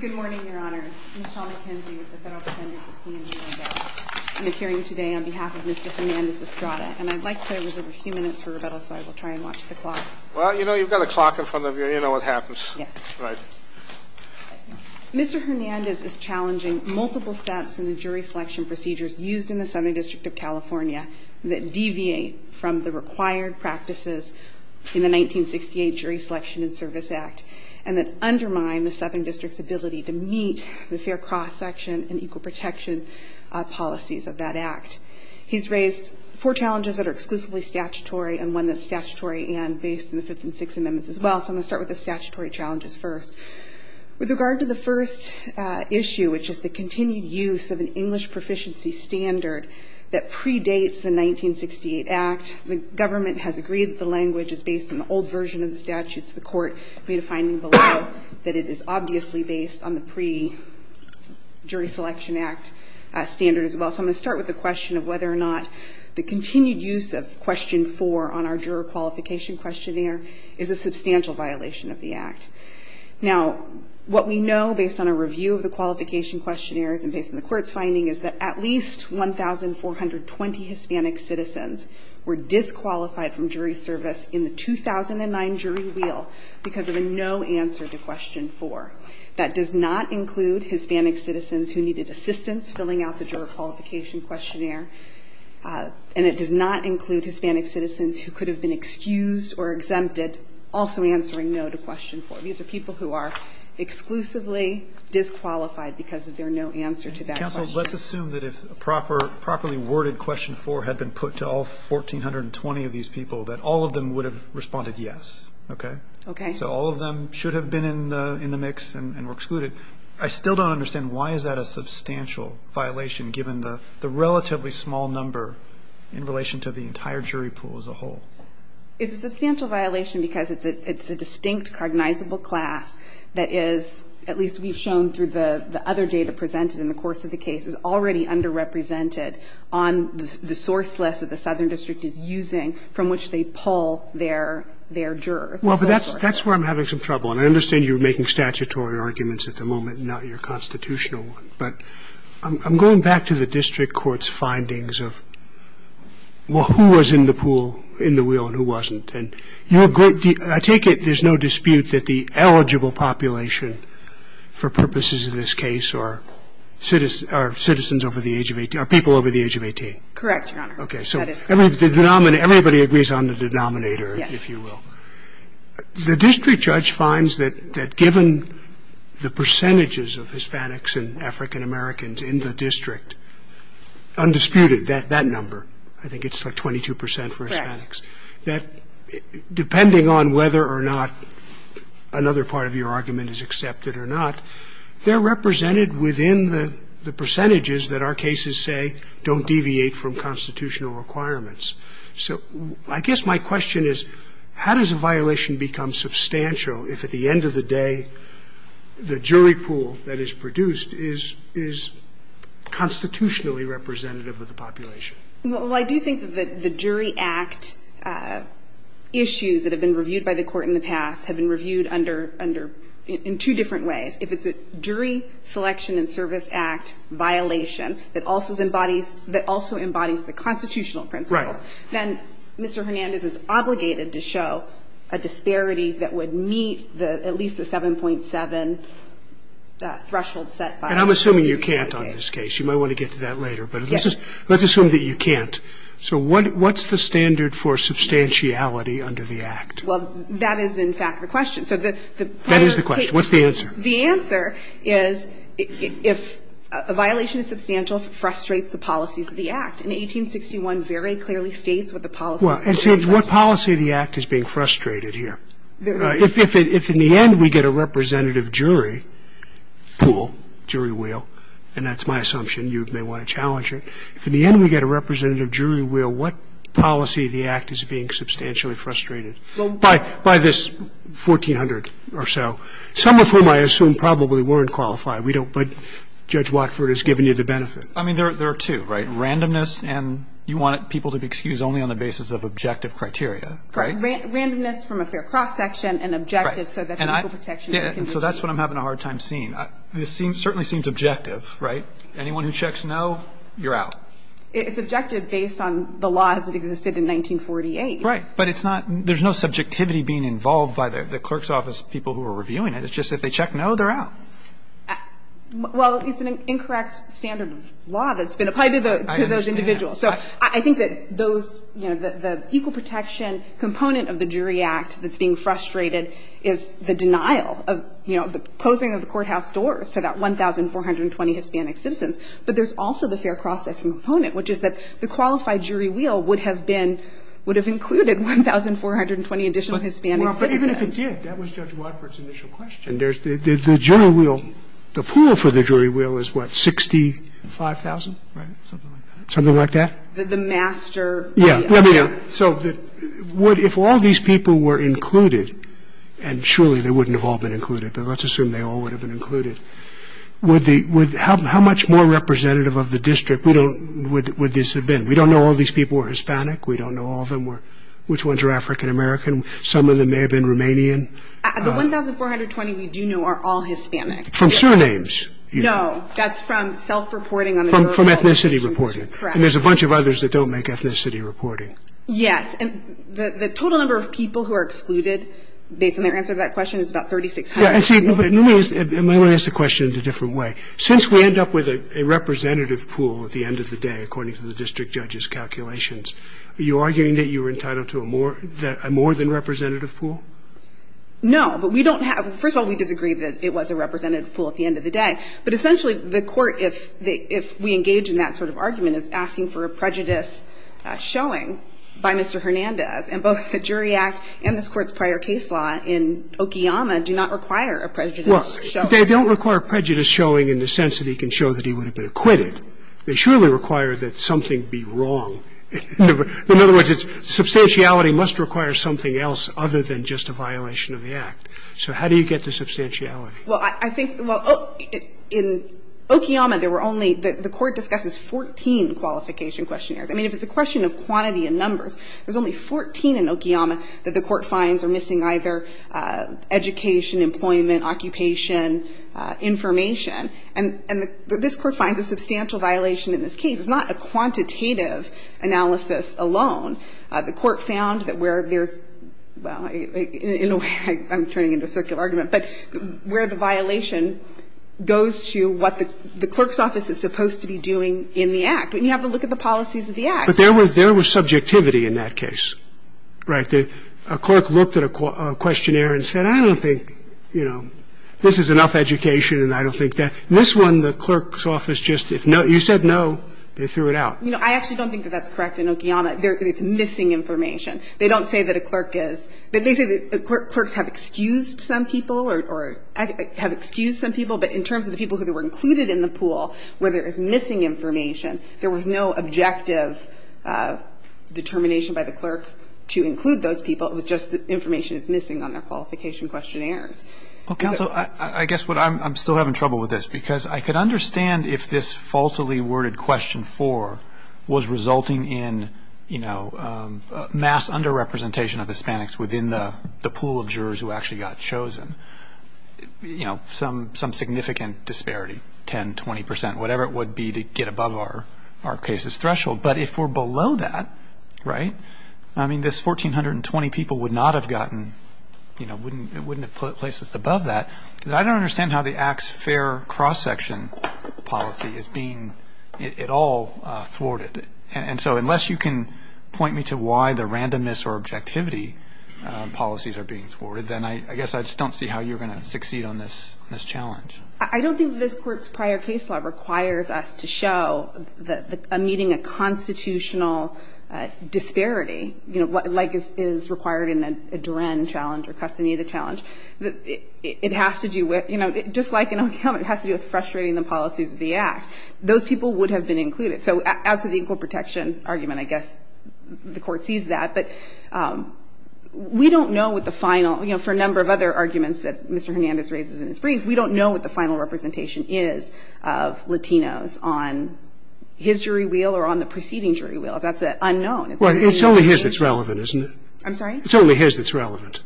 Good morning, Your Honor. Michelle McKenzie with the Federal Defendants of C&J Landau. I'm appearing today on behalf of Mr. Hernandez-Estrada, and I'd like to reserve a few minutes for rebuttal, so I will try and watch the clock. Well, you know, you've got a clock in front of you. You know what happens. Yes. Right. Mr. Hernandez is challenging multiple steps in the jury selection procedures used in the Southern District of California that deviate from the required practices in the 1968 Jury Selection and Service Act and that undermine the Southern District's ability to meet the fair cross-section and equal protection policies of that Act. He's raised four challenges that are exclusively statutory and one that's statutory and based on the 156 amendments as well. So I'm going to start with the statutory challenges first. With regard to the first issue, which is the continued use of an English proficiency standard that predates the 1968 Act, the government has agreed that the language is based on the old version of the statutes. The court made a finding below that it is obviously based on the pre-Jury Selection Act standard as well. So I'm going to start with the question of whether or not the continued use of Question 4 on our juror qualification questionnaire is a substantial violation of the Act. Now, what we know based on a review of the qualification questionnaires and based on the court's finding is that at least 1,420 Hispanic citizens were disqualified from jury service in the 2009 jury wheel because of a no answer to Question 4. That does not include Hispanic citizens who needed assistance filling out the juror qualification questionnaire, and it does not include Hispanic citizens who could have been excused or exempted also answering no to Question 4. These are people who are exclusively disqualified because of their no answer to that question. Counsel, let's assume that if a properly worded Question 4 had been put to all 1,420 of these people, that all of them would have responded yes. Okay? Okay. So all of them should have been in the mix and were excluded. I still don't understand why is that a substantial violation given the relatively small number in relation to the entire jury pool as a whole? It's a substantial violation because it's a distinct, cognizable class that is, at least we've shown through the other data presented in the course of the case, is already underrepresented on the source list that the Southern District is using from which they pull their jurors. Well, but that's where I'm having some trouble. And I understand you're making statutory arguments at the moment and not your constitutional one, but I'm going back to the district court's findings of, well, who was in the pool, in the wheel, and who wasn't. I take it there's no dispute that the eligible population for purposes of this case are citizens over the age of 18, are people over the age of 18? Correct, Your Honor. Okay. So everybody agrees on the denominator, if you will. Yes. The district judge finds that given the percentages of Hispanics and African-Americans in the district, undisputed, that number, I think it's like 22 percent for Hispanics, that depending on whether or not another part of your argument is accepted or not, they're represented within the percentages that our cases say don't deviate from constitutional requirements. So I guess my question is, how does a violation become substantial if at the end of the day, the jury pool that is produced is constitutionally representative of the population? Well, I do think that the jury act issues that have been reviewed by the court in the past have been reviewed under, in two different ways. If it's a jury selection and service act violation that also embodies the constitutional principles, then Mr. Hernandez is obligated to show a disparity that would meet at least the 7.7 threshold set by the jurisdiction. And I'm assuming you can't on this case. You might want to get to that later. Yes. Let's assume that you can't. So what's the standard for substantiality under the act? Well, that is, in fact, the question. That is the question. What's the answer? The answer is if a violation is substantial, it frustrates the policies of the act. And 1861 very clearly states what the policies of the act are. Well, it says what policy of the act is being frustrated here. If in the end we get a representative jury pool, jury wheel, and that's my assumption, you may want to challenge it. If in the end we get a representative jury wheel, what policy of the act is being substantially frustrated by this 1400 or so, some of whom I assume probably weren't qualified. We don't but Judge Watford has given you the benefit. I mean, there are two, right? Randomness and you want people to be excused only on the basis of objective criteria, right? Randomness from a fair cross-section and objective so that people protection can be achieved. And so that's what I'm having a hard time seeing. This certainly seems objective, right? Anyone who checks no, you're out. It's objective based on the laws that existed in 1948. Right. But it's not – there's no subjectivity being involved by the clerk's office people who are reviewing it. It's just if they check no, they're out. Well, it's an incorrect standard of law that's been applied to those individuals. So I think that those, you know, the equal protection component of the jury act that's being frustrated is the denial of, you know, the closing of the courthouse doors to that 1,420 Hispanic citizens. But there's also the fair cross-section component, which is that the qualified jury wheel would have been, would have included 1,420 additional Hispanic citizens. But even if it did, that was Judge Watford's initial question. And there's the jury wheel, the pool for the jury wheel is what, 65,000, right? Something like that. Something like that. The master. Yeah. So if all these people were included, and surely they wouldn't have all been included, but let's assume they all would have been included, would the, how much more representative of the district would this have been? We don't know all these people were Hispanic. We don't know all of them were, which ones were African American. Some of them may have been Romanian. The 1,420 we do know are all Hispanic. From surnames. No. That's from self-reporting. From ethnicity reporting. Correct. And there's a bunch of others that don't make ethnicity reporting. Yes. And the total number of people who are excluded based on their answer to that question is about 3,600. Let me ask the question in a different way. Since we end up with a representative pool at the end of the day, according to the district judge's calculations, are you arguing that you were entitled to a more than representative pool? No. But we don't have, first of all, we disagree that it was a representative pool at the end of the day. But essentially the Court, if we engage in that sort of argument, is asking for a prejudice showing by Mr. Hernandez. And both the Jury Act and this Court's prior case law in Okiyama do not require a prejudice showing. Well, they don't require prejudice showing in the sense that he can show that he would have been acquitted. They surely require that something be wrong. In other words, it's substantiality must require something else other than just a violation of the Act. So how do you get to substantiality? Well, I think, well, in Okiyama there were only, the Court discusses 14 qualification questionnaires. I mean, if it's a question of quantity and numbers, there's only 14 in Okiyama that the Court finds are missing either education, employment, occupation, information. And this Court finds a substantial violation in this case. It's not a quantitative analysis alone. The Court found that where there's, well, in a way I'm turning into a circular argument, but where the violation goes to what the clerk's office is supposed to be doing in the Act. And you have to look at the policies of the Act. But there was subjectivity in that case, right? A clerk looked at a questionnaire and said, I don't think, you know, this is enough education and I don't think that. In this one, the clerk's office just, if you said no, they threw it out. You know, I actually don't think that that's correct in Okiyama. It's missing information. They don't say that a clerk is. They say that clerks have excused some people or have excused some people, but in terms of the people who were included in the pool, where there is missing information, there was no objective determination by the clerk to include those people. It was just that information is missing on their qualification questionnaires. Well, counsel, I guess what I'm still having trouble with this, because I could understand if this falsely worded question four was resulting in, you know, mass underrepresentation of Hispanics within the pool of jurors who actually got chosen. You know, some significant disparity, 10, 20 percent, whatever it would be to get above our case's threshold. But if we're below that, right, I mean, this 1,420 people would not have gotten, you know, wouldn't have put places above that. I don't understand how the Acts Fair cross-section policy is being at all thwarted. And so unless you can point me to why the randomness or objectivity policies are being thwarted, then I guess I just don't see how you're going to succeed on this challenge. I don't think this Court's prior case law requires us to show a meeting a constitutional disparity, you know, like is required in a Duran challenge or Custody of the Challenge. It has to do with, you know, just like in Oak Hill, it has to do with frustrating the policies of the Act. Those people would have been included. So as to the equal protection argument, I guess the Court sees that. But we don't know what the final, you know, for a number of other arguments that Mr. Hernandez raises in his brief, we don't know what the final representation is of Latinos on his jury wheel or on the preceding jury wheel. That's unknown. It's only his that's relevant, isn't it? I'm sorry? It's only his that's relevant.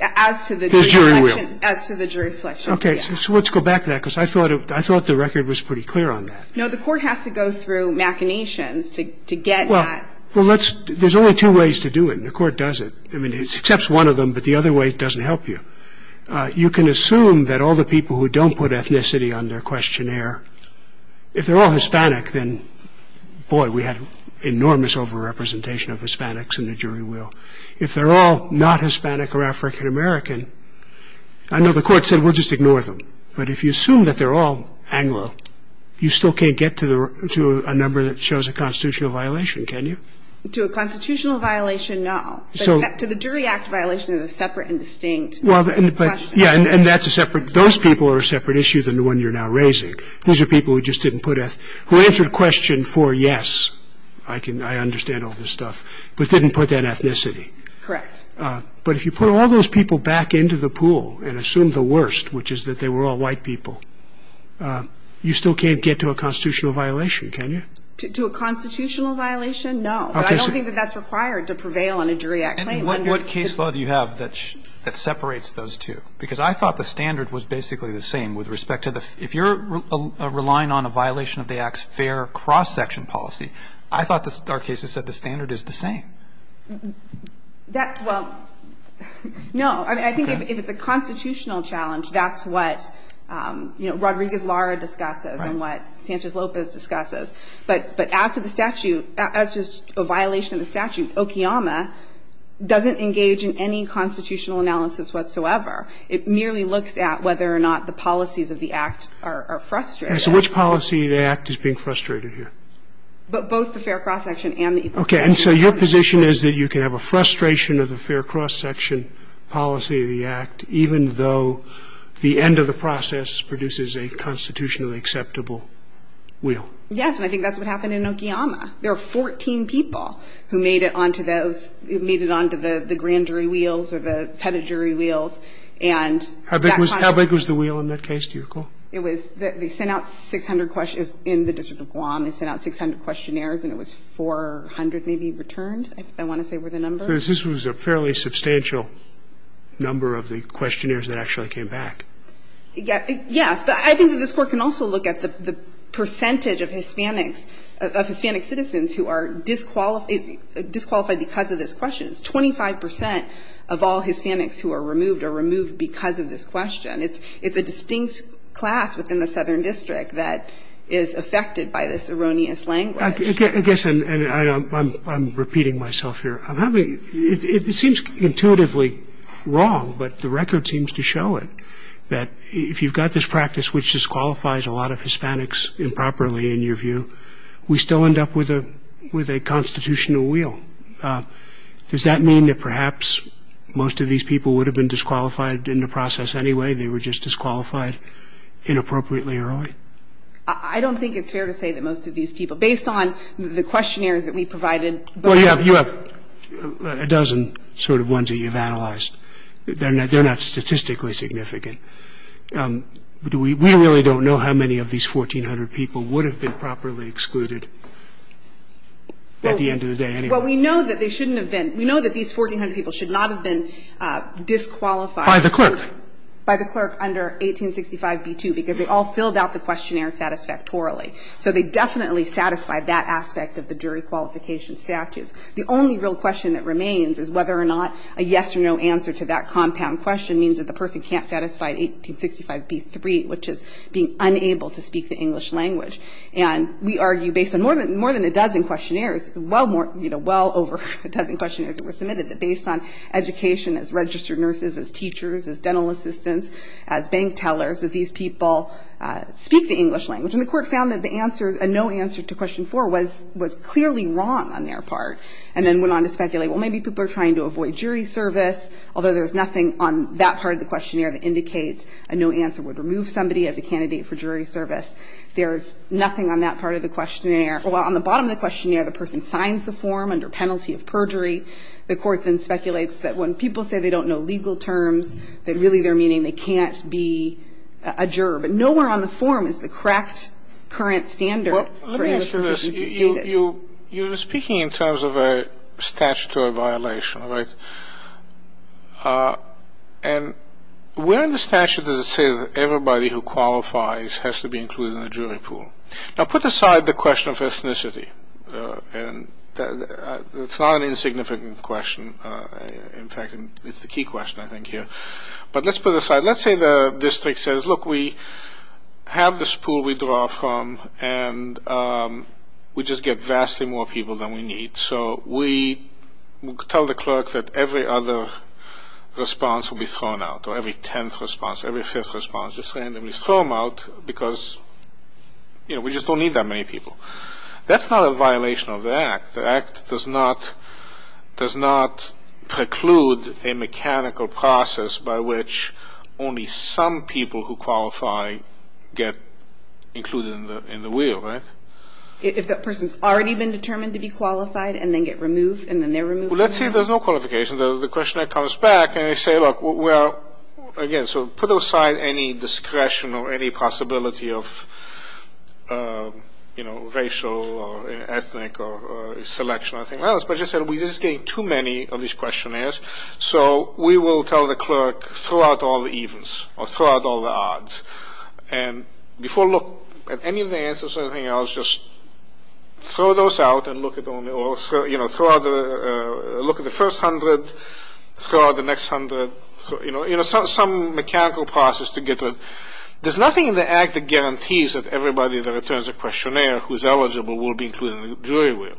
As to the jury selection. His jury wheel. As to the jury selection, yes. Okay. So let's go back to that because I thought the record was pretty clear on that. No, the Court has to go through machinations to get that. Well, there's only two ways to do it, and the Court does it. I mean, it accepts one of them, but the other way doesn't help you. You can assume that all the people who don't put ethnicity on their questionnaire, if they're all Hispanic, then, boy, we have enormous overrepresentation of Hispanics in the jury wheel. If they're all not Hispanic or African American, I know the Court said we'll just ignore them. But if you assume that they're all Anglo, you still can't get to a number that To a constitutional violation, no. To the jury act violation is a separate and distinct question. Yeah, and that's a separate, those people are a separate issue than the one you're now raising. Those are people who just didn't put, who answered question for yes, I understand all this stuff, but didn't put that ethnicity. Correct. But if you put all those people back into the pool and assume the worst, which is that they were all white people, you still can't get to a constitutional violation, can you? To a constitutional violation, no. But I don't think that that's required to prevail on a jury act claim. And what case law do you have that separates those two? Because I thought the standard was basically the same with respect to the, if you're relying on a violation of the Act's fair cross-section policy, I thought our cases said the standard is the same. That, well, no. I mean, I think if it's a constitutional challenge, that's what, you know, what Andrea Gislara discusses and what Sanchez Lopez discusses. But as to the statute, as to a violation of the statute, OKIAMA doesn't engage in any constitutional analysis whatsoever. It merely looks at whether or not the policies of the Act are frustrated. And so which policy of the Act is being frustrated here? Both the fair cross-section and the equalization. Okay. And so your position is that you can have a frustration of the fair cross-section policy of the Act, even though the end of the process produces a constitutionally acceptable wheel? Yes. And I think that's what happened in OKIAMA. There were 14 people who made it on to those, who made it on to the grand jury wheels or the pedigree wheels. And that kind of work. How big was the wheel in that case? Do you recall? It was, they sent out 600 questions in the District of Guam. They sent out 600 questionnaires, and it was 400 maybe returned, I want to say were the numbers. This was a fairly substantial number of the questionnaires that actually came back. Yes. But I think that this Court can also look at the percentage of Hispanics, of Hispanic citizens who are disqualified because of this question. It's 25 percent of all Hispanics who are removed are removed because of this question. It's a distinct class within the Southern District that is affected by this erroneous language. I guess I'm repeating myself here. It seems intuitively wrong, but the record seems to show it. That if you've got this practice which disqualifies a lot of Hispanics improperly, in your view, we still end up with a constitutional wheel. Does that mean that perhaps most of these people would have been disqualified in the process anyway? They were just disqualified inappropriately early? I don't think it's fair to say that most of these people, based on the questionnaires that we provided. Well, you have a dozen sort of ones that you've analyzed. They're not statistically significant. We really don't know how many of these 1,400 people would have been properly excluded at the end of the day anyway. Well, we know that they shouldn't have been. We know that these 1,400 people should not have been disqualified. By the clerk. By the clerk under 1865B2, because they all filled out the questionnaire satisfactorily. So they definitely satisfied that aspect of the jury qualification statutes. The only real question that remains is whether or not a yes or no answer to that compound question means that the person can't satisfy 1865B3, which is being unable to speak the English language. And we argue based on more than a dozen questionnaires, well over a dozen questionnaires that were submitted, that based on education as registered nurses, as teachers, as dental assistants, as bank tellers, that these people speak the English language. And the court found that the answer, a no answer to question 4, was clearly wrong on their part. And then went on to speculate, well, maybe people are trying to avoid jury service, although there's nothing on that part of the questionnaire that indicates a no answer would remove somebody as a candidate for jury service. There's nothing on that part of the questionnaire. Well, on the bottom of the questionnaire, the person signs the form under penalty of perjury. The court then speculates that when people say they don't know legal terms, that really they're meaning they can't be a juror. But nowhere on the form is the correct current standard for English proficiency stated. You're speaking in terms of a statutory violation, right? And where in the statute does it say that everybody who qualifies has to be included in the jury pool? Now, put aside the question of ethnicity. It's not an insignificant question. In fact, it's the key question, I think, here. But let's put it aside. Let's say the district says, look, we have this pool we draw from, and we just get vastly more people than we need. So we tell the clerk that every other response will be thrown out, or every tenth response, every fifth response. Just randomly throw them out because, you know, we just don't need that many people. That's not a violation of the Act. The Act does not preclude a mechanical process by which only some people who qualify get included in the wheel, right? If that person's already been determined to be qualified and then get removed and then they're removed? Well, let's say there's no qualification. The questionnaire comes back, and they say, look, well, again, so put aside any discretion or any possibility of, you know, racial or ethnic or selection or anything else. But as I said, we're just getting too many of these questionnaires. So we will tell the clerk, throw out all the evens or throw out all the odds. And before look at any of the answers or anything else, just throw those out and look at them. The question is, you know, is there something in the Act that guarantees that everybody that returns a questionnaire who is eligible will be included in the jury wheel?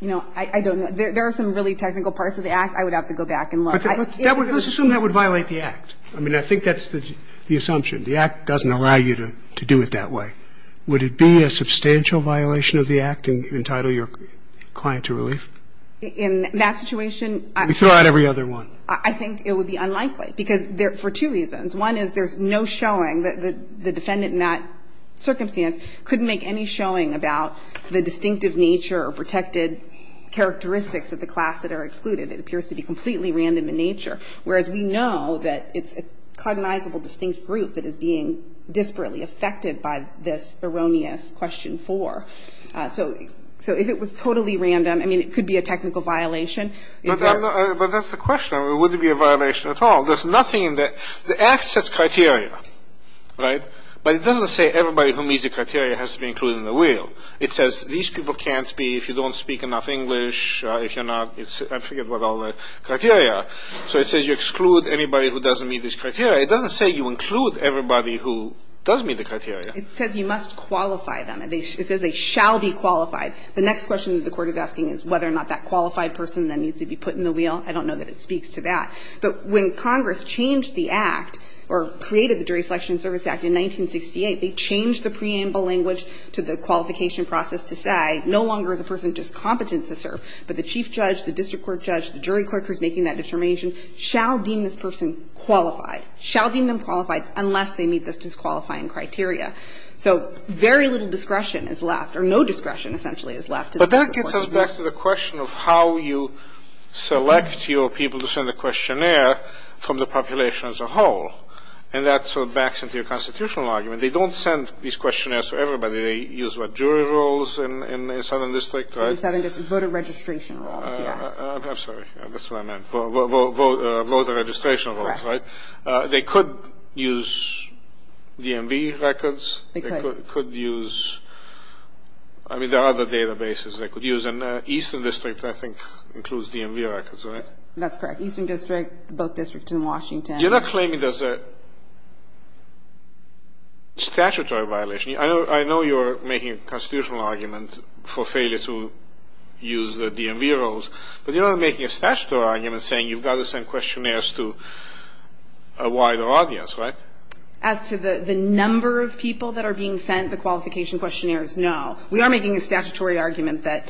You know, I don't know. There are some really technical parts of the Act. I would have to go back and look. But let's assume that would violate the Act. I mean, I think that's the assumption. The Act doesn't allow you to do it that way. I think it would be unlikely, because for two reasons. One is there's no showing that the defendant in that circumstance could make any showing about the distinctive nature or protected characteristics of the class that are excluded. It appears to be completely random in nature. Whereas we know that it's a cognizable distinct group that is being disparately affected by this erroneous Question 4. So if it was totally random, I mean, it could be a technical violation. Is there? But that's the question. It wouldn't be a violation at all. There's nothing in there. The Act sets criteria, right? But it doesn't say everybody who meets the criteria has to be included in the wheel. It says these people can't be if you don't speak enough English, if you're not. I forget what all the criteria are. So it says you exclude anybody who doesn't meet these criteria. It doesn't say you include everybody who does meet the criteria. It says you must qualify them. It says they shall be qualified. The next question the Court is asking is whether or not that qualified person then needs to be put in the wheel. I don't know that it speaks to that. But when Congress changed the Act or created the Jury Selection Service Act in 1968, they changed the preamble language to the qualification process to say no longer is a person discompetent to serve, but the chief judge, the district court judge, the jury clerk who is making that determination shall deem this person qualified, shall deem them qualified unless they meet this disqualifying criteria. So very little discretion is left, or no discretion essentially is left. But that gets us back to the question of how you select your people to send a questionnaire from the population as a whole. And that sort of backs into your constitutional argument. They don't send these questionnaires to everybody. They use, what, jury rules in the Southern District, right? In the Southern District, voter registration rules, yes. I'm sorry. That's what I meant. Voter registration rules, right? They could use DMV records. They could. They could use, I mean, there are other databases they could use. And Eastern District, I think, includes DMV records, right? That's correct. Eastern District, both districts in Washington. You're not claiming there's a statutory violation. I know you're making a constitutional argument for failure to use the DMV rules, but you're not making a statutory argument saying you've got to send questionnaires to a wider audience, right? As to the number of people that are being sent the qualification questionnaires, no. We are making a statutory argument that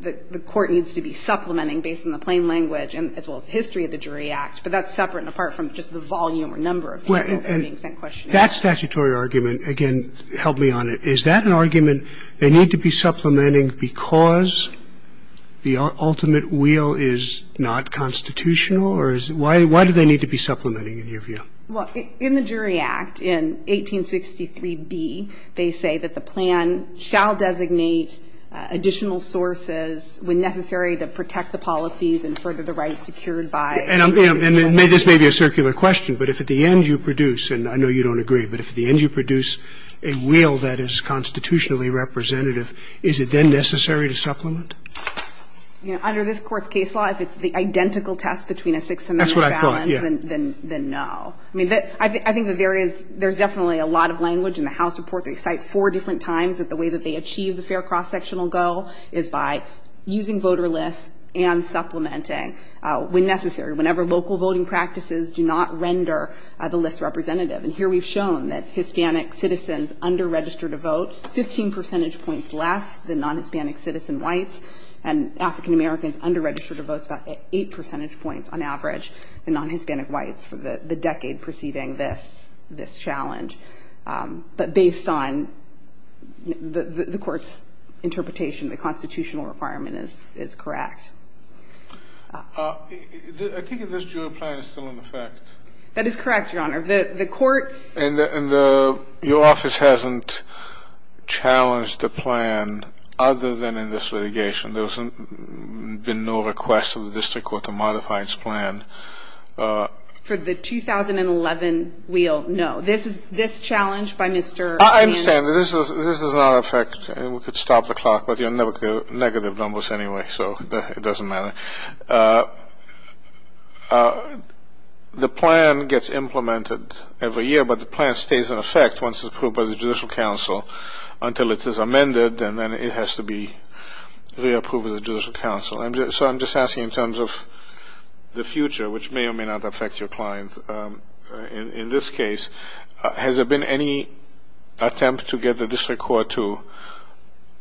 the court needs to be supplementing based on the plain language as well as history of the Jury Act. But that's separate and apart from just the volume or number of people who are being sent questionnaires. That statutory argument, again, help me on it. Is that an argument they need to be supplementing because the ultimate wheel is not constitutional? Or is it why do they need to be supplementing, in your view? Well, in the Jury Act, in 1863b, they say that the plan shall designate additional sources when necessary to protect the policies and further the rights secured by the Jury Act. And this may be a circular question, but if at the end you produce, and I know you don't agree, but if at the end you produce a wheel that is constitutionally representative, is it then necessary to supplement? You know, under this Court's case law, if it's the identical test between a Sixth Amendment and a balance, then no. That's what I thought, yes. I mean, I think that there is, there's definitely a lot of language in the House report. They cite four different times that the way that they achieve the fair cross-sectional goal is by using voter lists and supplementing when necessary, whenever local voting practices do not render the list representative. And here we've shown that Hispanic citizens under-registered to vote 15 percentage points less than non-Hispanic citizen whites, and African Americans under-registered to vote about 8 percentage points on average than non-Hispanic whites for the decade preceding this, this challenge. But based on the Court's interpretation, the constitutional requirement is correct. I think in this jury plan it's still in effect. That is correct, Your Honor. The Court And your office hasn't challenged the plan other than in this litigation. There's been no request of the district court to modify its plan. For the 2011 wheel, no. This challenge by Mr. I understand. This does not affect, and we could stop the clock, but you'll never get negative numbers anyway, so it doesn't matter. The plan gets implemented every year, but the plan stays in effect once it's approved by the Judicial Council until it is amended, and then it has to be re-approved by the Judicial Council. So I'm just asking in terms of the future, which may or may not affect your client. In this case, has there been any attempt to get the district court to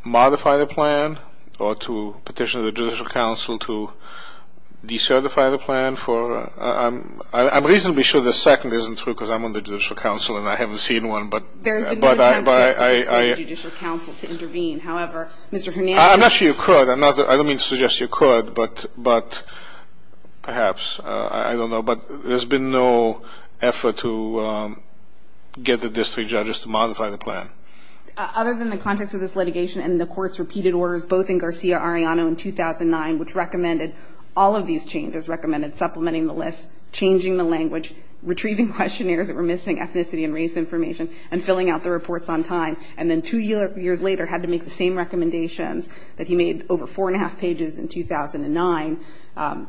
modify the plan or to petition the Judicial Council to decertify the plan? I'm reasonably sure the second isn't true because I'm on the Judicial Council and I haven't seen one. There has been no attempt to persuade the Judicial Council to intervene. However, Mr. Hernandez I'm not sure you could. I don't mean to suggest you could, but perhaps. I don't know. But there's been no effort to get the district judges to modify the plan. Other than the context of this litigation and the court's repeated orders, both in Garcia-Arellano in 2009, which recommended all of these changes, recommended supplementing the list, changing the language, retrieving questionnaires that were missing ethnicity and race information, and filling out the reports on time. And then two years later had to make the same recommendations that he made over four and a half pages in 2009.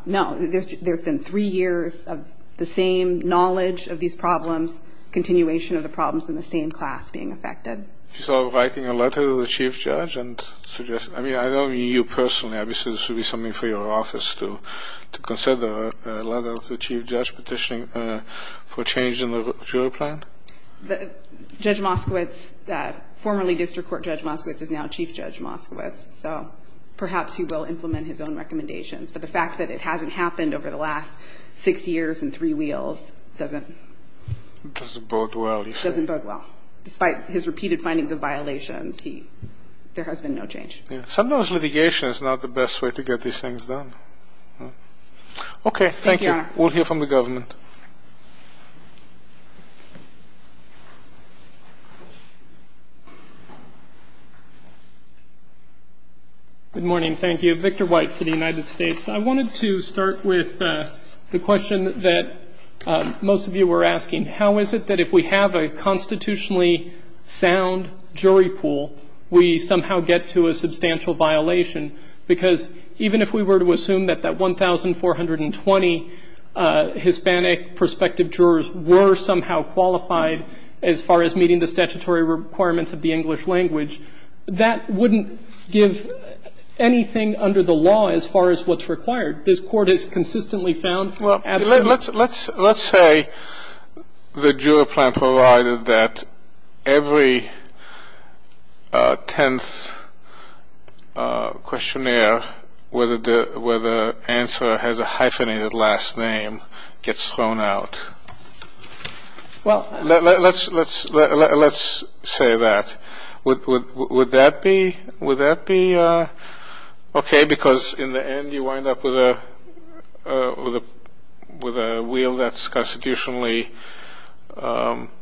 No, there's been three years of the same knowledge of these problems, continuation of the problems in the same class being affected. So writing a letter to the chief judge and suggesting, I mean, I don't mean you personally. Obviously, this would be something for your office to consider, a letter to the chief judge petitioning for change in the jury plan. Judge Moskowitz, formerly District Court Judge Moskowitz, is now Chief Judge Moskowitz. So perhaps he will implement his own recommendations. But the fact that it hasn't happened over the last six years in three wheels doesn't Doesn't bode well. Doesn't bode well. Despite his repeated findings of violations, there has been no change. Sometimes litigation is not the best way to get these things done. Okay. Thank you, Your Honor. We'll hear from the government. Good morning. Thank you. Victor White for the United States. I wanted to start with the question that most of you were asking. How is it that if we have a constitutionally sound jury pool, we somehow get to a substantial violation? Because even if we were to assume that that 1,420 Hispanic prospective jurors were somehow qualified, as far as meeting the statutory requirements of the English language, that wouldn't give anything under the law as far as what's required. This Court has consistently found absolutely. Well, let's say the jury plan provided that every tenth questionnaire where the answer has a hyphenated last name gets thrown out. Well, let's say that. Would that be okay? Because in the end you wind up with a wheel that's constitutionally balanced.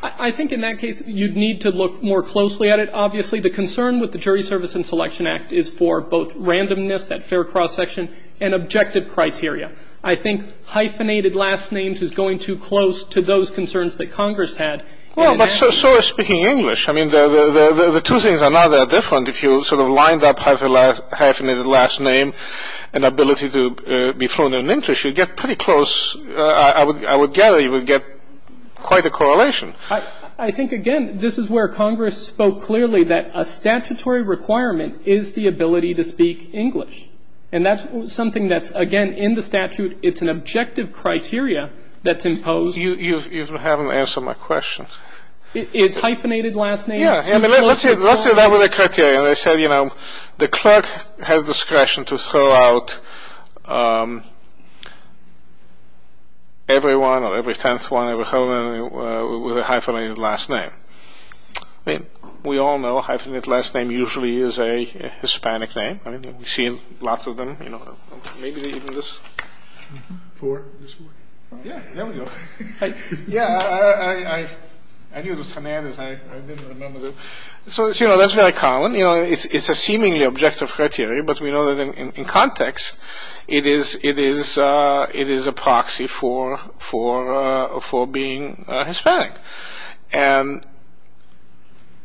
I think in that case you'd need to look more closely at it. Obviously the concern with the Jury Service and Selection Act is for both randomness, that fair cross-section, and objective criteria. I think hyphenated last names is going too close to those concerns that Congress had. Well, but so is speaking English. I mean, the two things are not that different. If you sort of lined up hyphenated last name and ability to be thrown in English, you'd get pretty close. I would gather you would get quite a correlation. I think, again, this is where Congress spoke clearly that a statutory requirement is the ability to speak English. And that's something that's, again, in the statute. It's an objective criteria that's imposed. You haven't answered my question. It's hyphenated last name. Yeah. Let's say that was the criteria. They said, you know, the clerk has discretion to throw out everyone or every tenth one, with a hyphenated last name. I mean, we all know hyphenated last name usually is a Hispanic name. I mean, we've seen lots of them, you know. Maybe even this. Four. Yeah, there we go. Yeah, I knew the semantics. I didn't remember that. So, you know, that's very common. You know, it's a seemingly objective criteria, but we know that in context it is a proxy for being Hispanic. And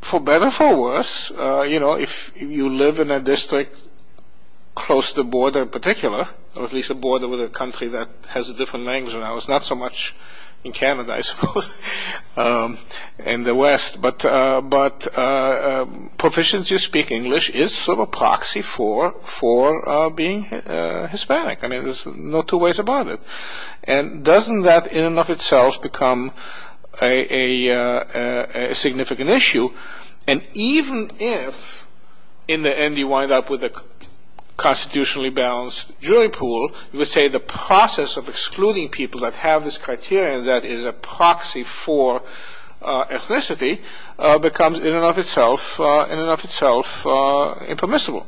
for better or for worse, you know, if you live in a district close to the border in particular, or at least a border with a country that has a different language than ours, not so much in Canada, I suppose, in the West, but proficiency to speak English is sort of a proxy for being Hispanic. I mean, there's no two ways about it. And doesn't that in and of itself become a significant issue? And even if in the end you wind up with a constitutionally balanced jury pool, you would say the process of excluding people that have this criteria that is a proxy for ethnicity becomes in and of itself impermissible.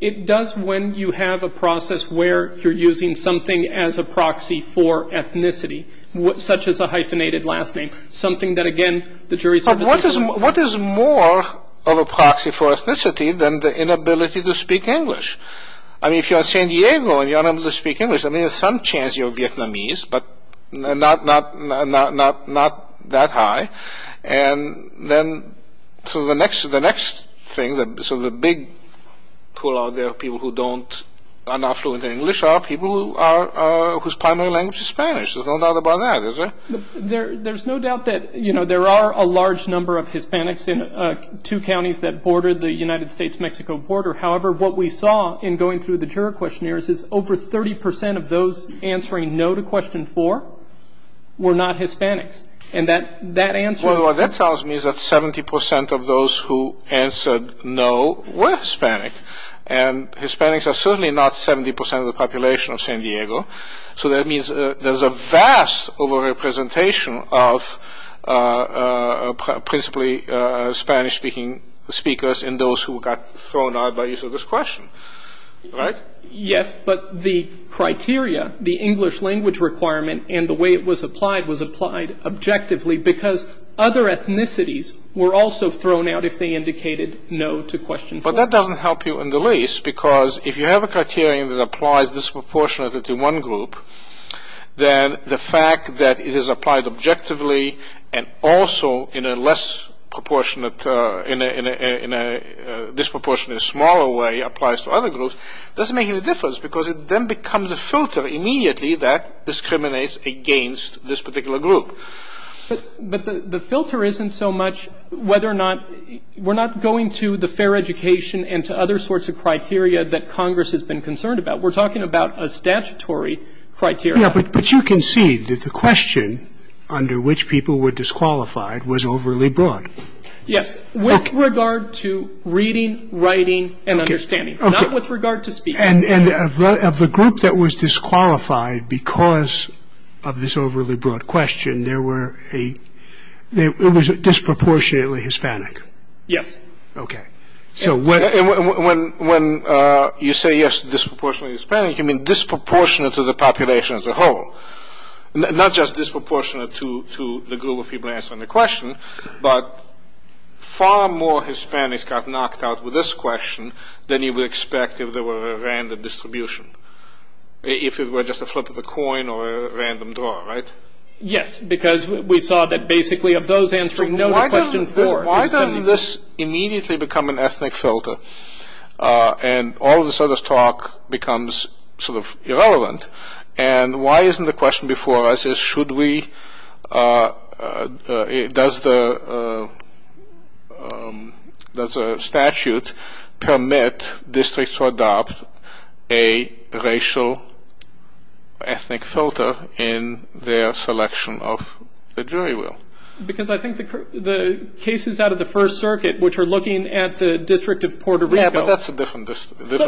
It does when you have a process where you're using something as a proxy for ethnicity, such as a hyphenated last name. Something that, again, the jury services... But what is more of a proxy for ethnicity than the inability to speak English? I mean, if you're in San Diego and you're unable to speak English, I mean, there's some chance you're Vietnamese, but not that high. And then the next thing, so the big pool out there of people who are not fluent in English are people whose primary language is Spanish. There's no doubt about that, is there? There's no doubt that, you know, there are a large number of Hispanics in two counties that border the United States-Mexico border. However, what we saw in going through the juror questionnaires is over 30 percent of those answering no to question four were not Hispanics. And that answer... Well, what that tells me is that 70 percent of those who answered no were Hispanic, and Hispanics are certainly not 70 percent of the population of San Diego. So that means there's a vast over-representation of principally Spanish-speaking speakers in those who got thrown out by use of this question, right? Yes, but the criteria, the English language requirement, and the way it was applied was applied objectively, because other ethnicities were also thrown out if they indicated no to question four. But that doesn't help you in the least, because if you have a criterion that applies disproportionately to one group, then the fact that it is applied objectively and also in a less proportionate or in a disproportionately smaller way applies to other groups doesn't make any difference, because it then becomes a filter immediately that discriminates against this particular group. But the filter isn't so much whether or not we're not going to the fair education and to other sorts of criteria that Congress has been concerned about. We're talking about a statutory criteria. Yeah, but you can see that the question under which people were disqualified was overly broad. Yes, with regard to reading, writing, and understanding, not with regard to speaking. And of the group that was disqualified because of this overly broad question, it was disproportionately Hispanic. Yes. Okay. And when you say, yes, disproportionately Hispanic, you mean disproportionate to the population as a whole, not just disproportionate to the group of people answering the question, but far more Hispanics got knocked out with this question than you would expect if there were a random distribution, if it were just a flip of the coin or a random draw, right? Yes, because we saw that basically of those answering no to question four. Why doesn't this immediately become an ethnic filter and all this other talk becomes sort of irrelevant? And why isn't the question before us is should we, does the statute permit districts to adopt a racial ethnic filter in their selection of the jury rule? Because I think the cases out of the First Circuit, which are looking at the District of Puerto Rico. Yes, but that's a different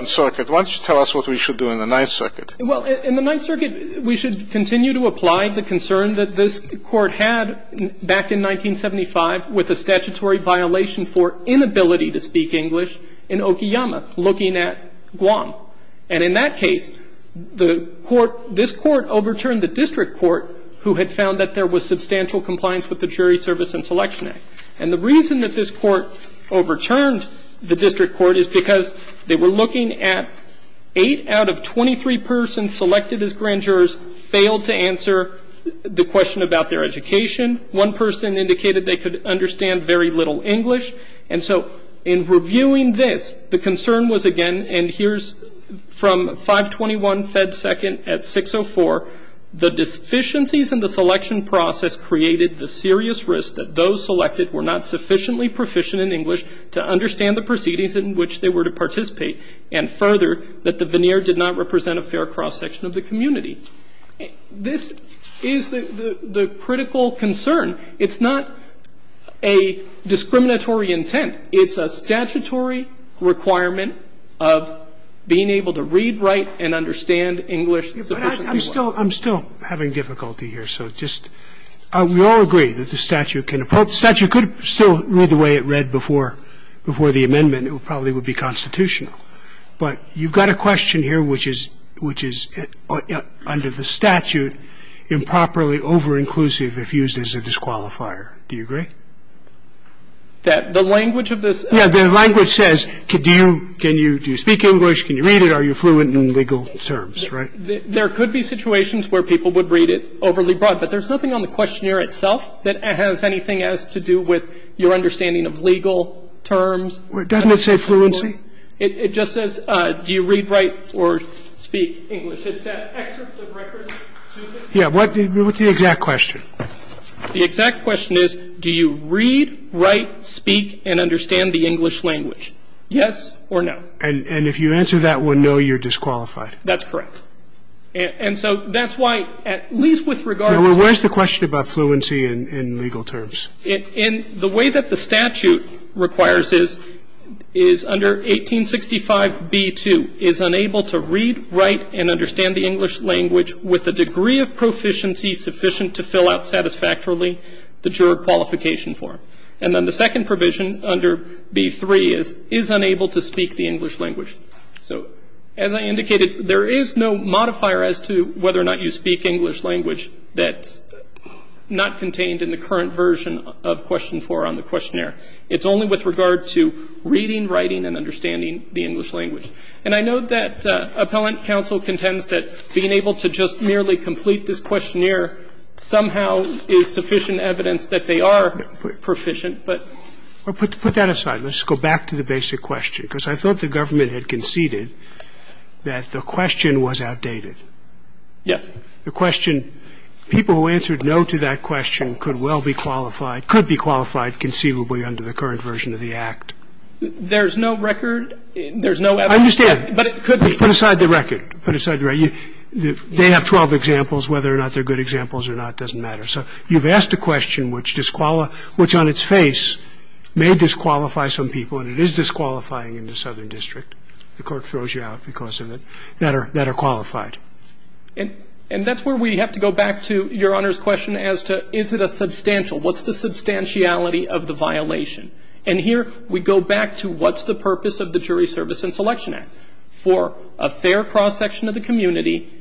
circuit. Why don't you tell us what we should do in the Ninth Circuit? Well, in the Ninth Circuit, we should continue to apply the concern that this Court had back in 1975 with a statutory violation for inability to speak English in Okeyama looking at Guam. And in that case, the Court, this Court overturned the district court who had found that there was substantial compliance with the Jury Service and Selection Act. And the reason that this Court overturned the district court is because they were looking at eight out of 23 persons selected as grand jurors failed to answer the question about their education. One person indicated they could understand very little English. And so in reviewing this, the concern was again, and here's from 521 Fed 2nd at 604, the deficiencies in the selection process created the serious risk that those selected were not sufficiently proficient in English to understand the proceedings in which they were to participate and further that the veneer did not represent a fair cross-section of the community. This is the critical concern. It's not a discriminatory intent. It's a statutory requirement of being able to read, write, and understand English sufficiently well. I'm still having difficulty here. So just we all agree that the statute can approach. The statute could still read the way it read before the amendment. It probably would be constitutional. But you've got a question here which is under the statute improperly over-inclusive if used as a disqualifier. Do you agree? That the language of this? Yeah. The language says can you speak English, can you read it, are you fluent in legal terms, right? There could be situations where people would read it overly broad. But there's nothing on the questionnaire itself that has anything to do with your understanding of legal terms. Doesn't it say fluency? It just says do you read, write, or speak English. It's that excerpt of records. Yeah. What's the exact question? The exact question is do you read, write, speak, and understand the English language, yes or no? And if you answer that with no, you're disqualified. That's correct. And so that's why, at least with regard to the question about fluency in legal terms. And the way that the statute requires is under 1865b2, is unable to read, write, and understand the English language with the degree of proficiency sufficient to fill out satisfactorily the juror qualification form. And then the second provision under b3 is, is unable to speak the English language. So as I indicated, there is no modifier as to whether or not you speak English language that's not contained in the current version of question 4 on the questionnaire. It's only with regard to reading, writing, and understanding the English language. And I know that Appellant Counsel contends that being able to just merely complete this questionnaire somehow is sufficient evidence that they are proficient, but. Well, put that aside. Let's go back to the basic question, because I thought the government had conceded that the question was outdated. Yes. The question, people who answered no to that question could well be qualified – could be qualified conceivably under the current version of the Act. There's no record. There's no evidence. I understand. But it could be. Put aside the record. Put aside the record. They have 12 examples. Whether or not they're good examples or not doesn't matter. So you've asked a question which disqualifies – which on its face may disqualify some people, and it is disqualifying in the Southern District. The Court throws you out because of it, that are qualified. And that's where we have to go back to Your Honor's question as to is it a substantial – what's the substantiality of the violation. And here we go back to what's the purpose of the Jury Service and Selection Act. For a fair cross-section of the community,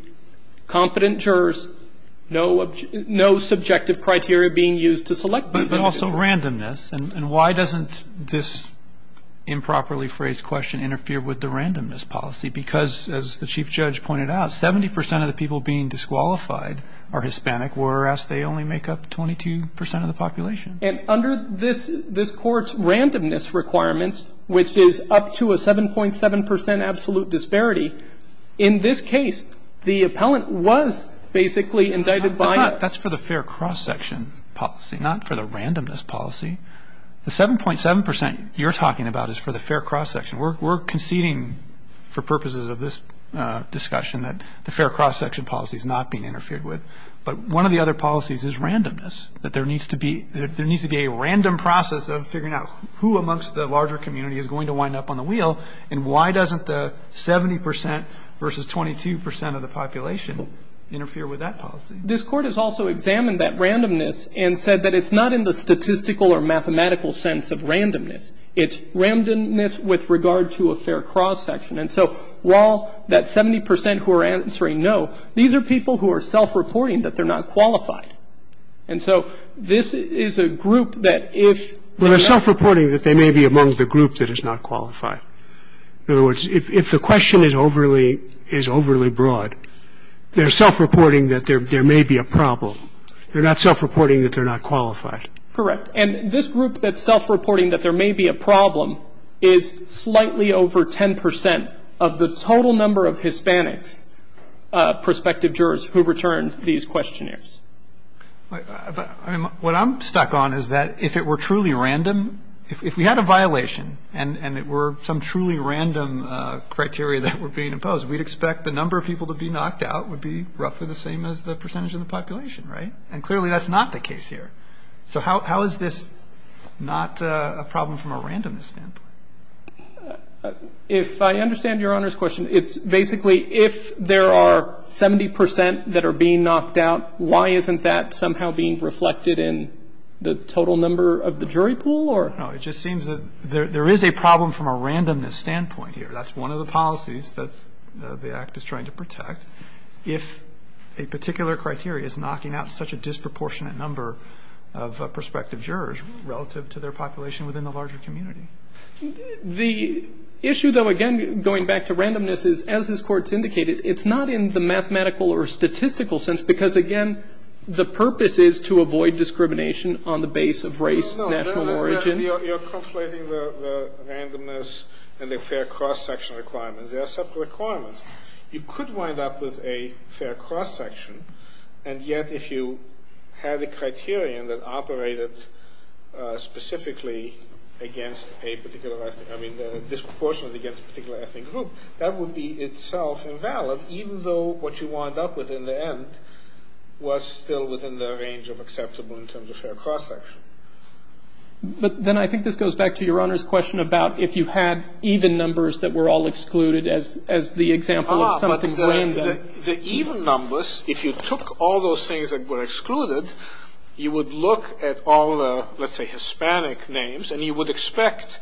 competent jurors, no subjective criteria being used to select these individuals. But also randomness. And why doesn't this improperly phrased question interfere with the randomness policy? Because, as the Chief Judge pointed out, 70 percent of the people being disqualified are Hispanic, whereas they only make up 22 percent of the population. And under this – this Court's randomness requirements, which is up to a 7.7 percent absolute disparity, in this case, the appellant was basically indicted by a – That's not – that's for the fair cross-section policy, not for the randomness policy. The 7.7 percent you're talking about is for the fair cross-section. We're conceding for purposes of this discussion that the fair cross-section policy is not being interfered with. But one of the other policies is randomness, that there needs to be – there needs to be a random process of figuring out who amongst the larger community is going to wind up on the wheel, and why doesn't the 70 percent versus 22 percent of the population interfere with that policy? This Court has also examined that randomness and said that it's not in the statistical or mathematical sense of randomness. It's randomness with regard to a fair cross-section. And so while that 70 percent who are answering no, these are people who are self-reporting that they're not qualified. And so this is a group that if – Well, they're self-reporting that they may be among the group that is not qualified. In other words, if the question is overly – is overly broad, they're self-reporting that there may be a problem. They're not self-reporting that they're not qualified. Correct. And this group that's self-reporting that there may be a problem is slightly over 10 percent of the total number of Hispanics, prospective jurors who returned to these questionnaires. But what I'm stuck on is that if it were truly random, if we had a violation and it were some truly random criteria that were being imposed, we'd expect the number of people to be knocked out would be roughly the same as the percentage of the population, right? And clearly that's not the case here. So how is this not a problem from a randomness standpoint? If I understand Your Honor's question, it's basically if there are 70 percent that are being knocked out, why isn't that somehow being reflected in the total number of the jury pool or? No, it just seems that there is a problem from a randomness standpoint here. That's one of the policies that the Act is trying to protect. If a particular criteria is knocking out such a disproportionate number of prospective jurors relative to their population within the larger community. The issue, though, again, going back to randomness, is as this Court's indicated, it's not in the mathematical or statistical sense because, again, the purpose is to avoid discrimination on the base of race, national origin. No, Your Honor, you're conflating the randomness and the fair cross-section requirements. There are separate requirements. You could wind up with a fair cross-section, and yet if you had a criterion that operated specifically against a particular ethnic group, I mean disproportionately against a particular ethnic group, that would be itself invalid, even though what you wind up with in the end was still within the range of acceptable in terms of fair cross-section. But then I think this goes back to Your Honor's question about if you had even numbers that were all excluded as the example of something random. The even numbers, if you took all those things that were excluded, you would look at all the, let's say, Hispanic names, and you would expect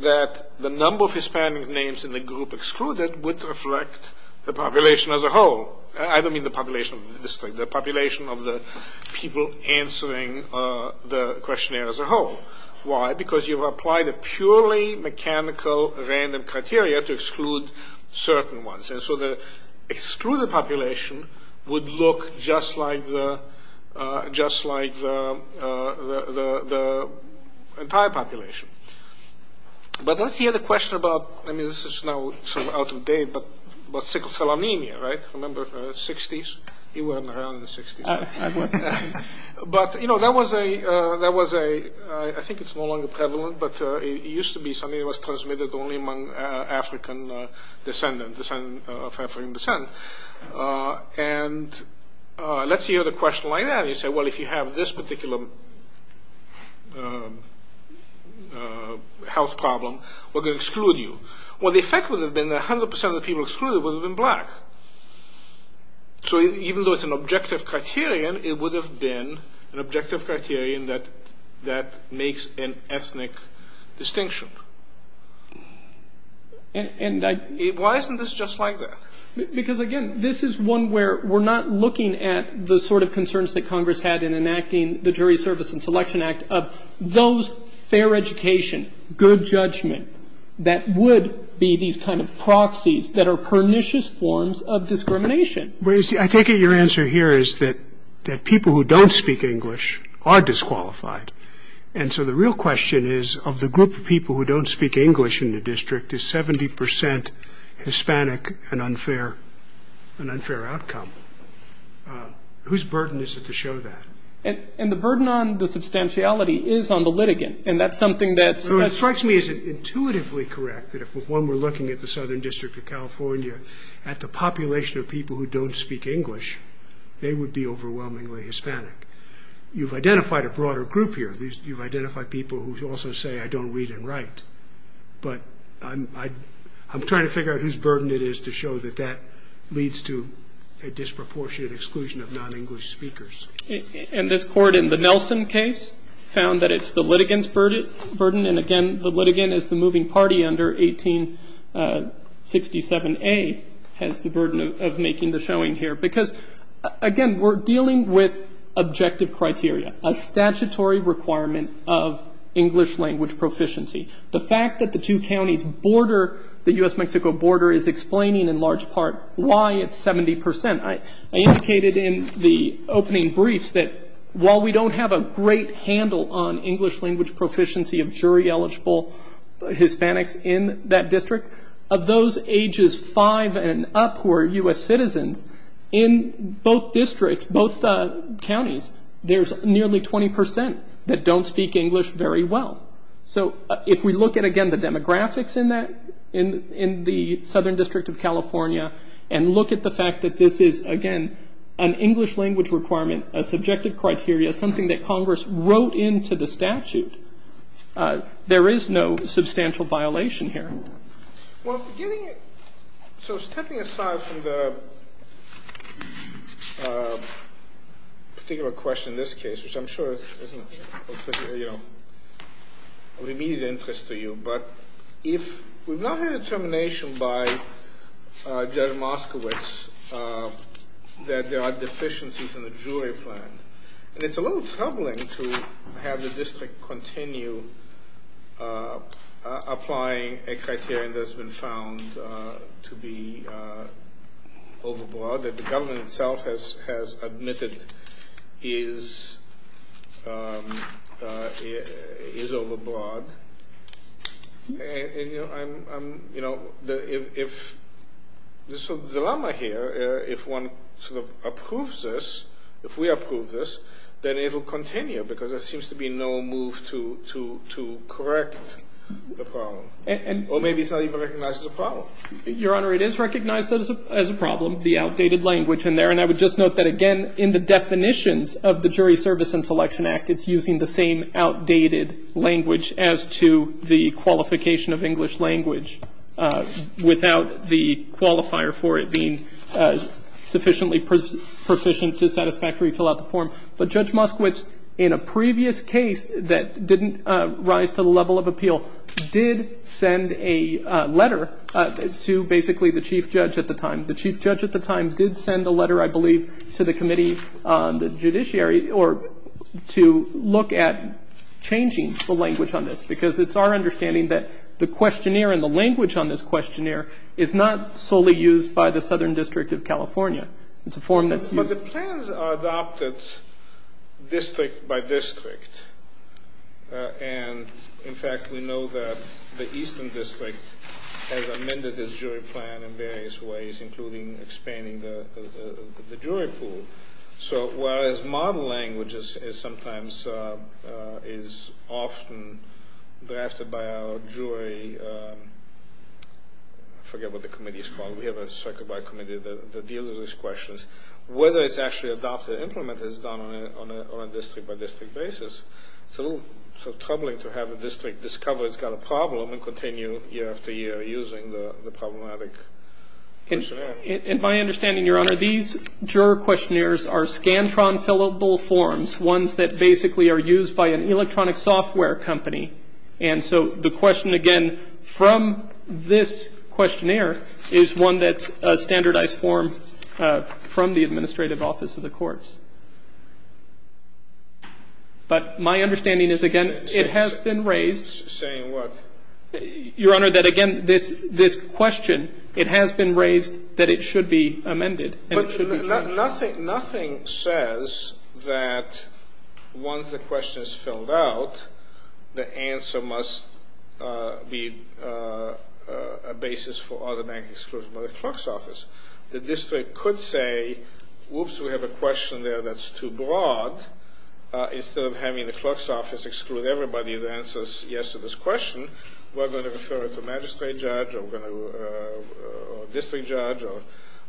that the number of Hispanic names in the group excluded would reflect the population as a whole. I don't mean the population of the district. The population of the people answering the questionnaire as a whole. Why? Because you apply the purely mechanical random criteria to exclude certain ones. And so the excluded population would look just like the entire population. But let's hear the question about, I mean, this is now sort of out of date, but about sickle cell anemia, right? Remember the 60s? You weren't around in the 60s. I wasn't. But, you know, that was a, I think it's no longer prevalent, but it used to be something that was transmitted only among African descendants, descendants of African descent. And let's hear the question like that. You say, well, if you have this particular health problem, we're going to exclude you. Well, the effect would have been that 100% of the people excluded would have been black. So even though it's an objective criterion, it would have been an objective criterion that makes an ethnic distinction. Why isn't this just like that? Because, again, this is one where we're not looking at the sort of concerns that Congress had in enacting the Jury Service and Selection Act of those fair education, good judgment that would be these kind of proxies that are pernicious forms of discrimination. Well, you see, I take it your answer here is that people who don't speak English are disqualified. And so the real question is of the group of people who don't speak English in the district, is 70% Hispanic an unfair outcome? Whose burden is it to show that? And the burden on the substantiality is on the litigant, and that's something that's So it strikes me as intuitively correct that if, when we're looking at the Southern District of California, at the population of people who don't speak English, they would be overwhelmingly Hispanic. You've identified a broader group here. You've identified people who also say, I don't read and write. But I'm trying to figure out whose burden it is to show that that leads to a disproportionate exclusion of non-English speakers. And this Court in the Nelson case found that it's the litigant's burden. And, again, the litigant is the moving party under 1867A has the burden of making the showing here, because, again, we're dealing with objective criteria, a statutory requirement of English language proficiency. The fact that the two counties border the U.S.-Mexico border is explaining, in large part, why it's 70%. I indicated in the opening briefs that while we don't have a great handle on English language proficiency of jury-eligible Hispanics in that district, of those ages 5 and up who are U.S. citizens, in both districts, both counties, there's nearly 20% that don't speak English very well. So if we look at, again, the demographics in the Southern District of California and look at the fact that this is, again, an English language requirement, a subjective criteria, something that Congress wrote into the statute, there is no substantial violation here. Well, getting it – so stepping aside from the particular question in this case, which I'm sure is of immediate interest to you, but if we've not had a determination by Judge Moskowitz that there are deficiencies in the jury plan, and it's a little troubling to have the district continue applying a criterion that's been found to be overbroad, that the government itself has admitted is overbroad. And, you know, I'm – you know, if – so the dilemma here, if one sort of approves this, if we approve this, then it'll continue because there seems to be no move to correct the problem. Or maybe it's not even recognized as a problem. Your Honor, it is recognized as a problem, the outdated language in there. And I would just note that, again, in the definitions of the Jury Service and Selection Act, it's using the same outdated language as to the qualification of English language without the qualifier for it being sufficiently proficient to satisfactorily fill out the form. But Judge Moskowitz, in a previous case that didn't rise to the level of appeal, did send a letter to basically the chief judge at the time. The chief judge at the time did send a letter, I believe, to the committee, the judiciary or to look at changing the language on this. Because it's our understanding that the questionnaire and the language on this questionnaire is not solely used by the Southern District of California. It's a form that's used. But the plans are adopted district by district. And, in fact, we know that the Eastern District has amended its jury plan in various ways, including expanding the jury pool. So whereas modern language sometimes is often drafted by our jury, I forget what the committee is called. We have a circuit-wide committee that deals with these questions. Whether it's actually adopted or implemented is done on a district-by-district basis. It's a little troubling to have a district discover it's got a problem and continue year after year using the problematic questionnaire. And my understanding, Your Honor, these juror questionnaires are Scantron fillable forms, ones that basically are used by an electronic software company. And so the question, again, from this questionnaire is one that's a standardized form from the administrative office of the courts. But my understanding is, again, it has been raised. Saying what? Your Honor, that, again, this question, it has been raised that it should be amended and it should be changed. Nothing says that once the question is filled out, the answer must be a basis for automatic exclusion by the clerk's office. The district could say, whoops, we have a question there that's too broad. Instead of having the clerk's office exclude everybody that answers yes to this question, we're going to refer it to a magistrate judge or district judge or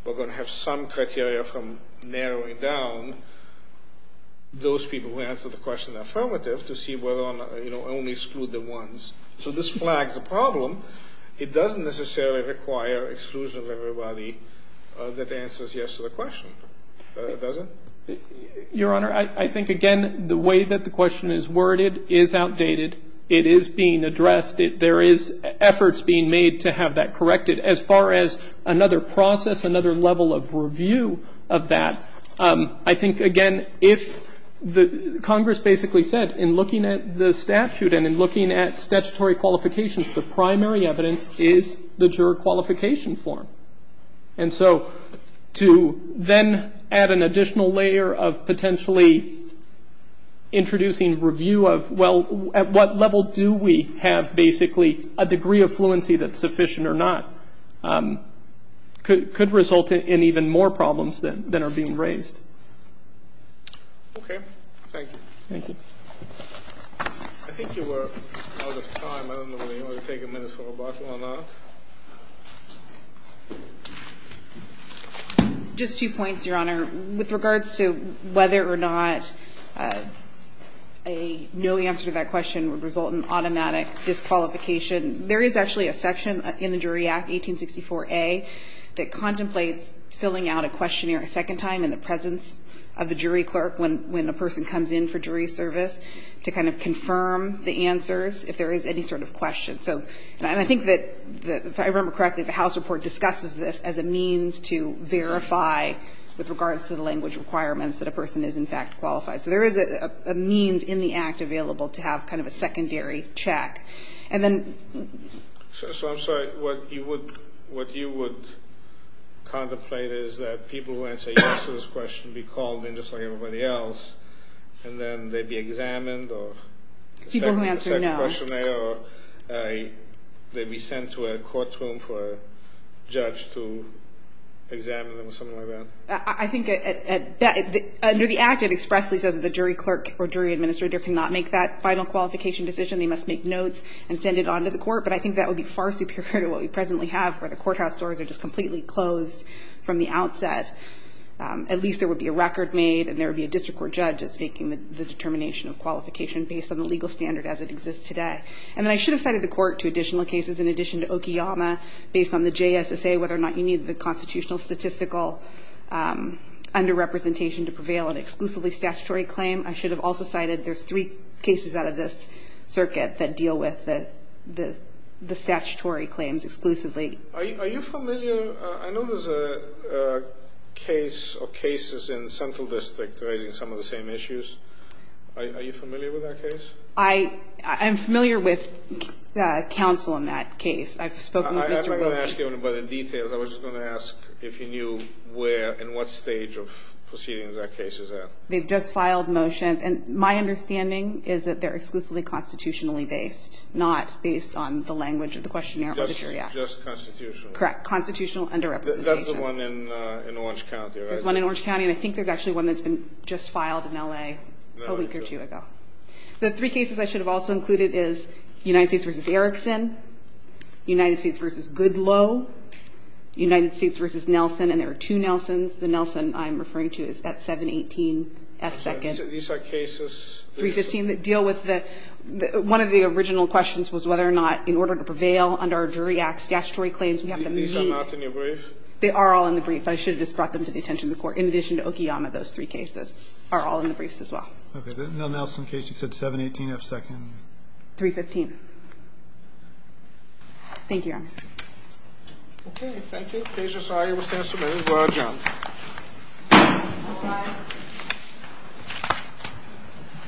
we're going to have some criteria from narrowing down those people who answer the question in the affirmative to see whether or not, you know, only exclude the ones. So this flags a problem. It doesn't necessarily require exclusion of everybody that answers yes to the question, does it? Your Honor, I think, again, the way that the question is worded is outdated. It is being addressed. There is efforts being made to have that corrected. As far as another process, another level of review of that, I think, again, if the Congress basically said, in looking at the statute and in looking at statutory qualifications, the primary evidence is the juror qualification form. And so to then add an additional layer of potentially introducing review of, well, at what level do we have basically a degree of fluency that's sufficient or not could result in even more problems than are being raised. Okay. Thank you. Thank you. I think you were out of time. I don't know whether you want to take a minute for a bottle or not. Just two points, Your Honor. With regards to whether or not a no answer to that question would result in automatic disqualification, there is actually a section in the Jury Act, 1864A, that contemplates filling out a questionnaire a second time in the presence of the jury clerk when a person comes in for jury service to kind of confirm the answers if there is any sort of question. And I think that, if I remember correctly, the House report discusses this as a means to verify with regards to the language requirements that a person is, in fact, qualified. So there is a means in the Act available to have kind of a secondary check. And then ---- So I'm sorry. What you would contemplate is that people who answer yes to this question be called in just like everybody else, and then they be examined or ---- People who answer no. Questionnaire or they be sent to a courtroom for a judge to examine them or something like that? I think under the Act it expressly says that the jury clerk or jury administrator cannot make that final qualification decision. They must make notes and send it on to the court. But I think that would be far superior to what we presently have where the courthouse doors are just completely closed from the outset. At least there would be a record made and there would be a district court judge that's making the determination of qualification based on the legal standard as it exists today. And then I should have cited the court to additional cases in addition to Okiyama based on the JSSA, whether or not you need the constitutional statistical underrepresentation to prevail an exclusively statutory claim. I should have also cited there's three cases out of this circuit that deal with the statutory claims exclusively. Are you familiar? I know there's a case or cases in Central District raising some of the same issues. Are you familiar with that case? I'm familiar with counsel in that case. I've spoken to Mr. Wilkie. I'm not going to ask you about the details. I was just going to ask if you knew where and what stage of proceedings that case is at. They've just filed motions. And my understanding is that they're exclusively constitutionally based, not based on the language of the questionnaire or the jury act. Just constitutional. Correct. Constitutional underrepresentation. That's the one in Orange County, right? There's one in Orange County. And I think there's actually one that's been just filed in L.A. a week or two ago. The three cases I should have also included is United States v. Erickson, United States v. Goodloe, United States v. Nelson. And there are two Nelsons. The Nelson I'm referring to is at 718 F. Second. These are cases? 315 that deal with the one of the original questions was whether or not in order to prevail under a jury act, statutory claims, we have to meet. These are not in your brief? They are all in the brief. I should have just brought them to the attention of the court. In addition to Okiyama, those three cases are all in the briefs as well. Okay. The Nelson case, you said 718 F. Second. 315. Thank you, Your Honor. Okay. Thank you. The case is aye. We'll stand subpoenaed. We'll adjourn. All rise.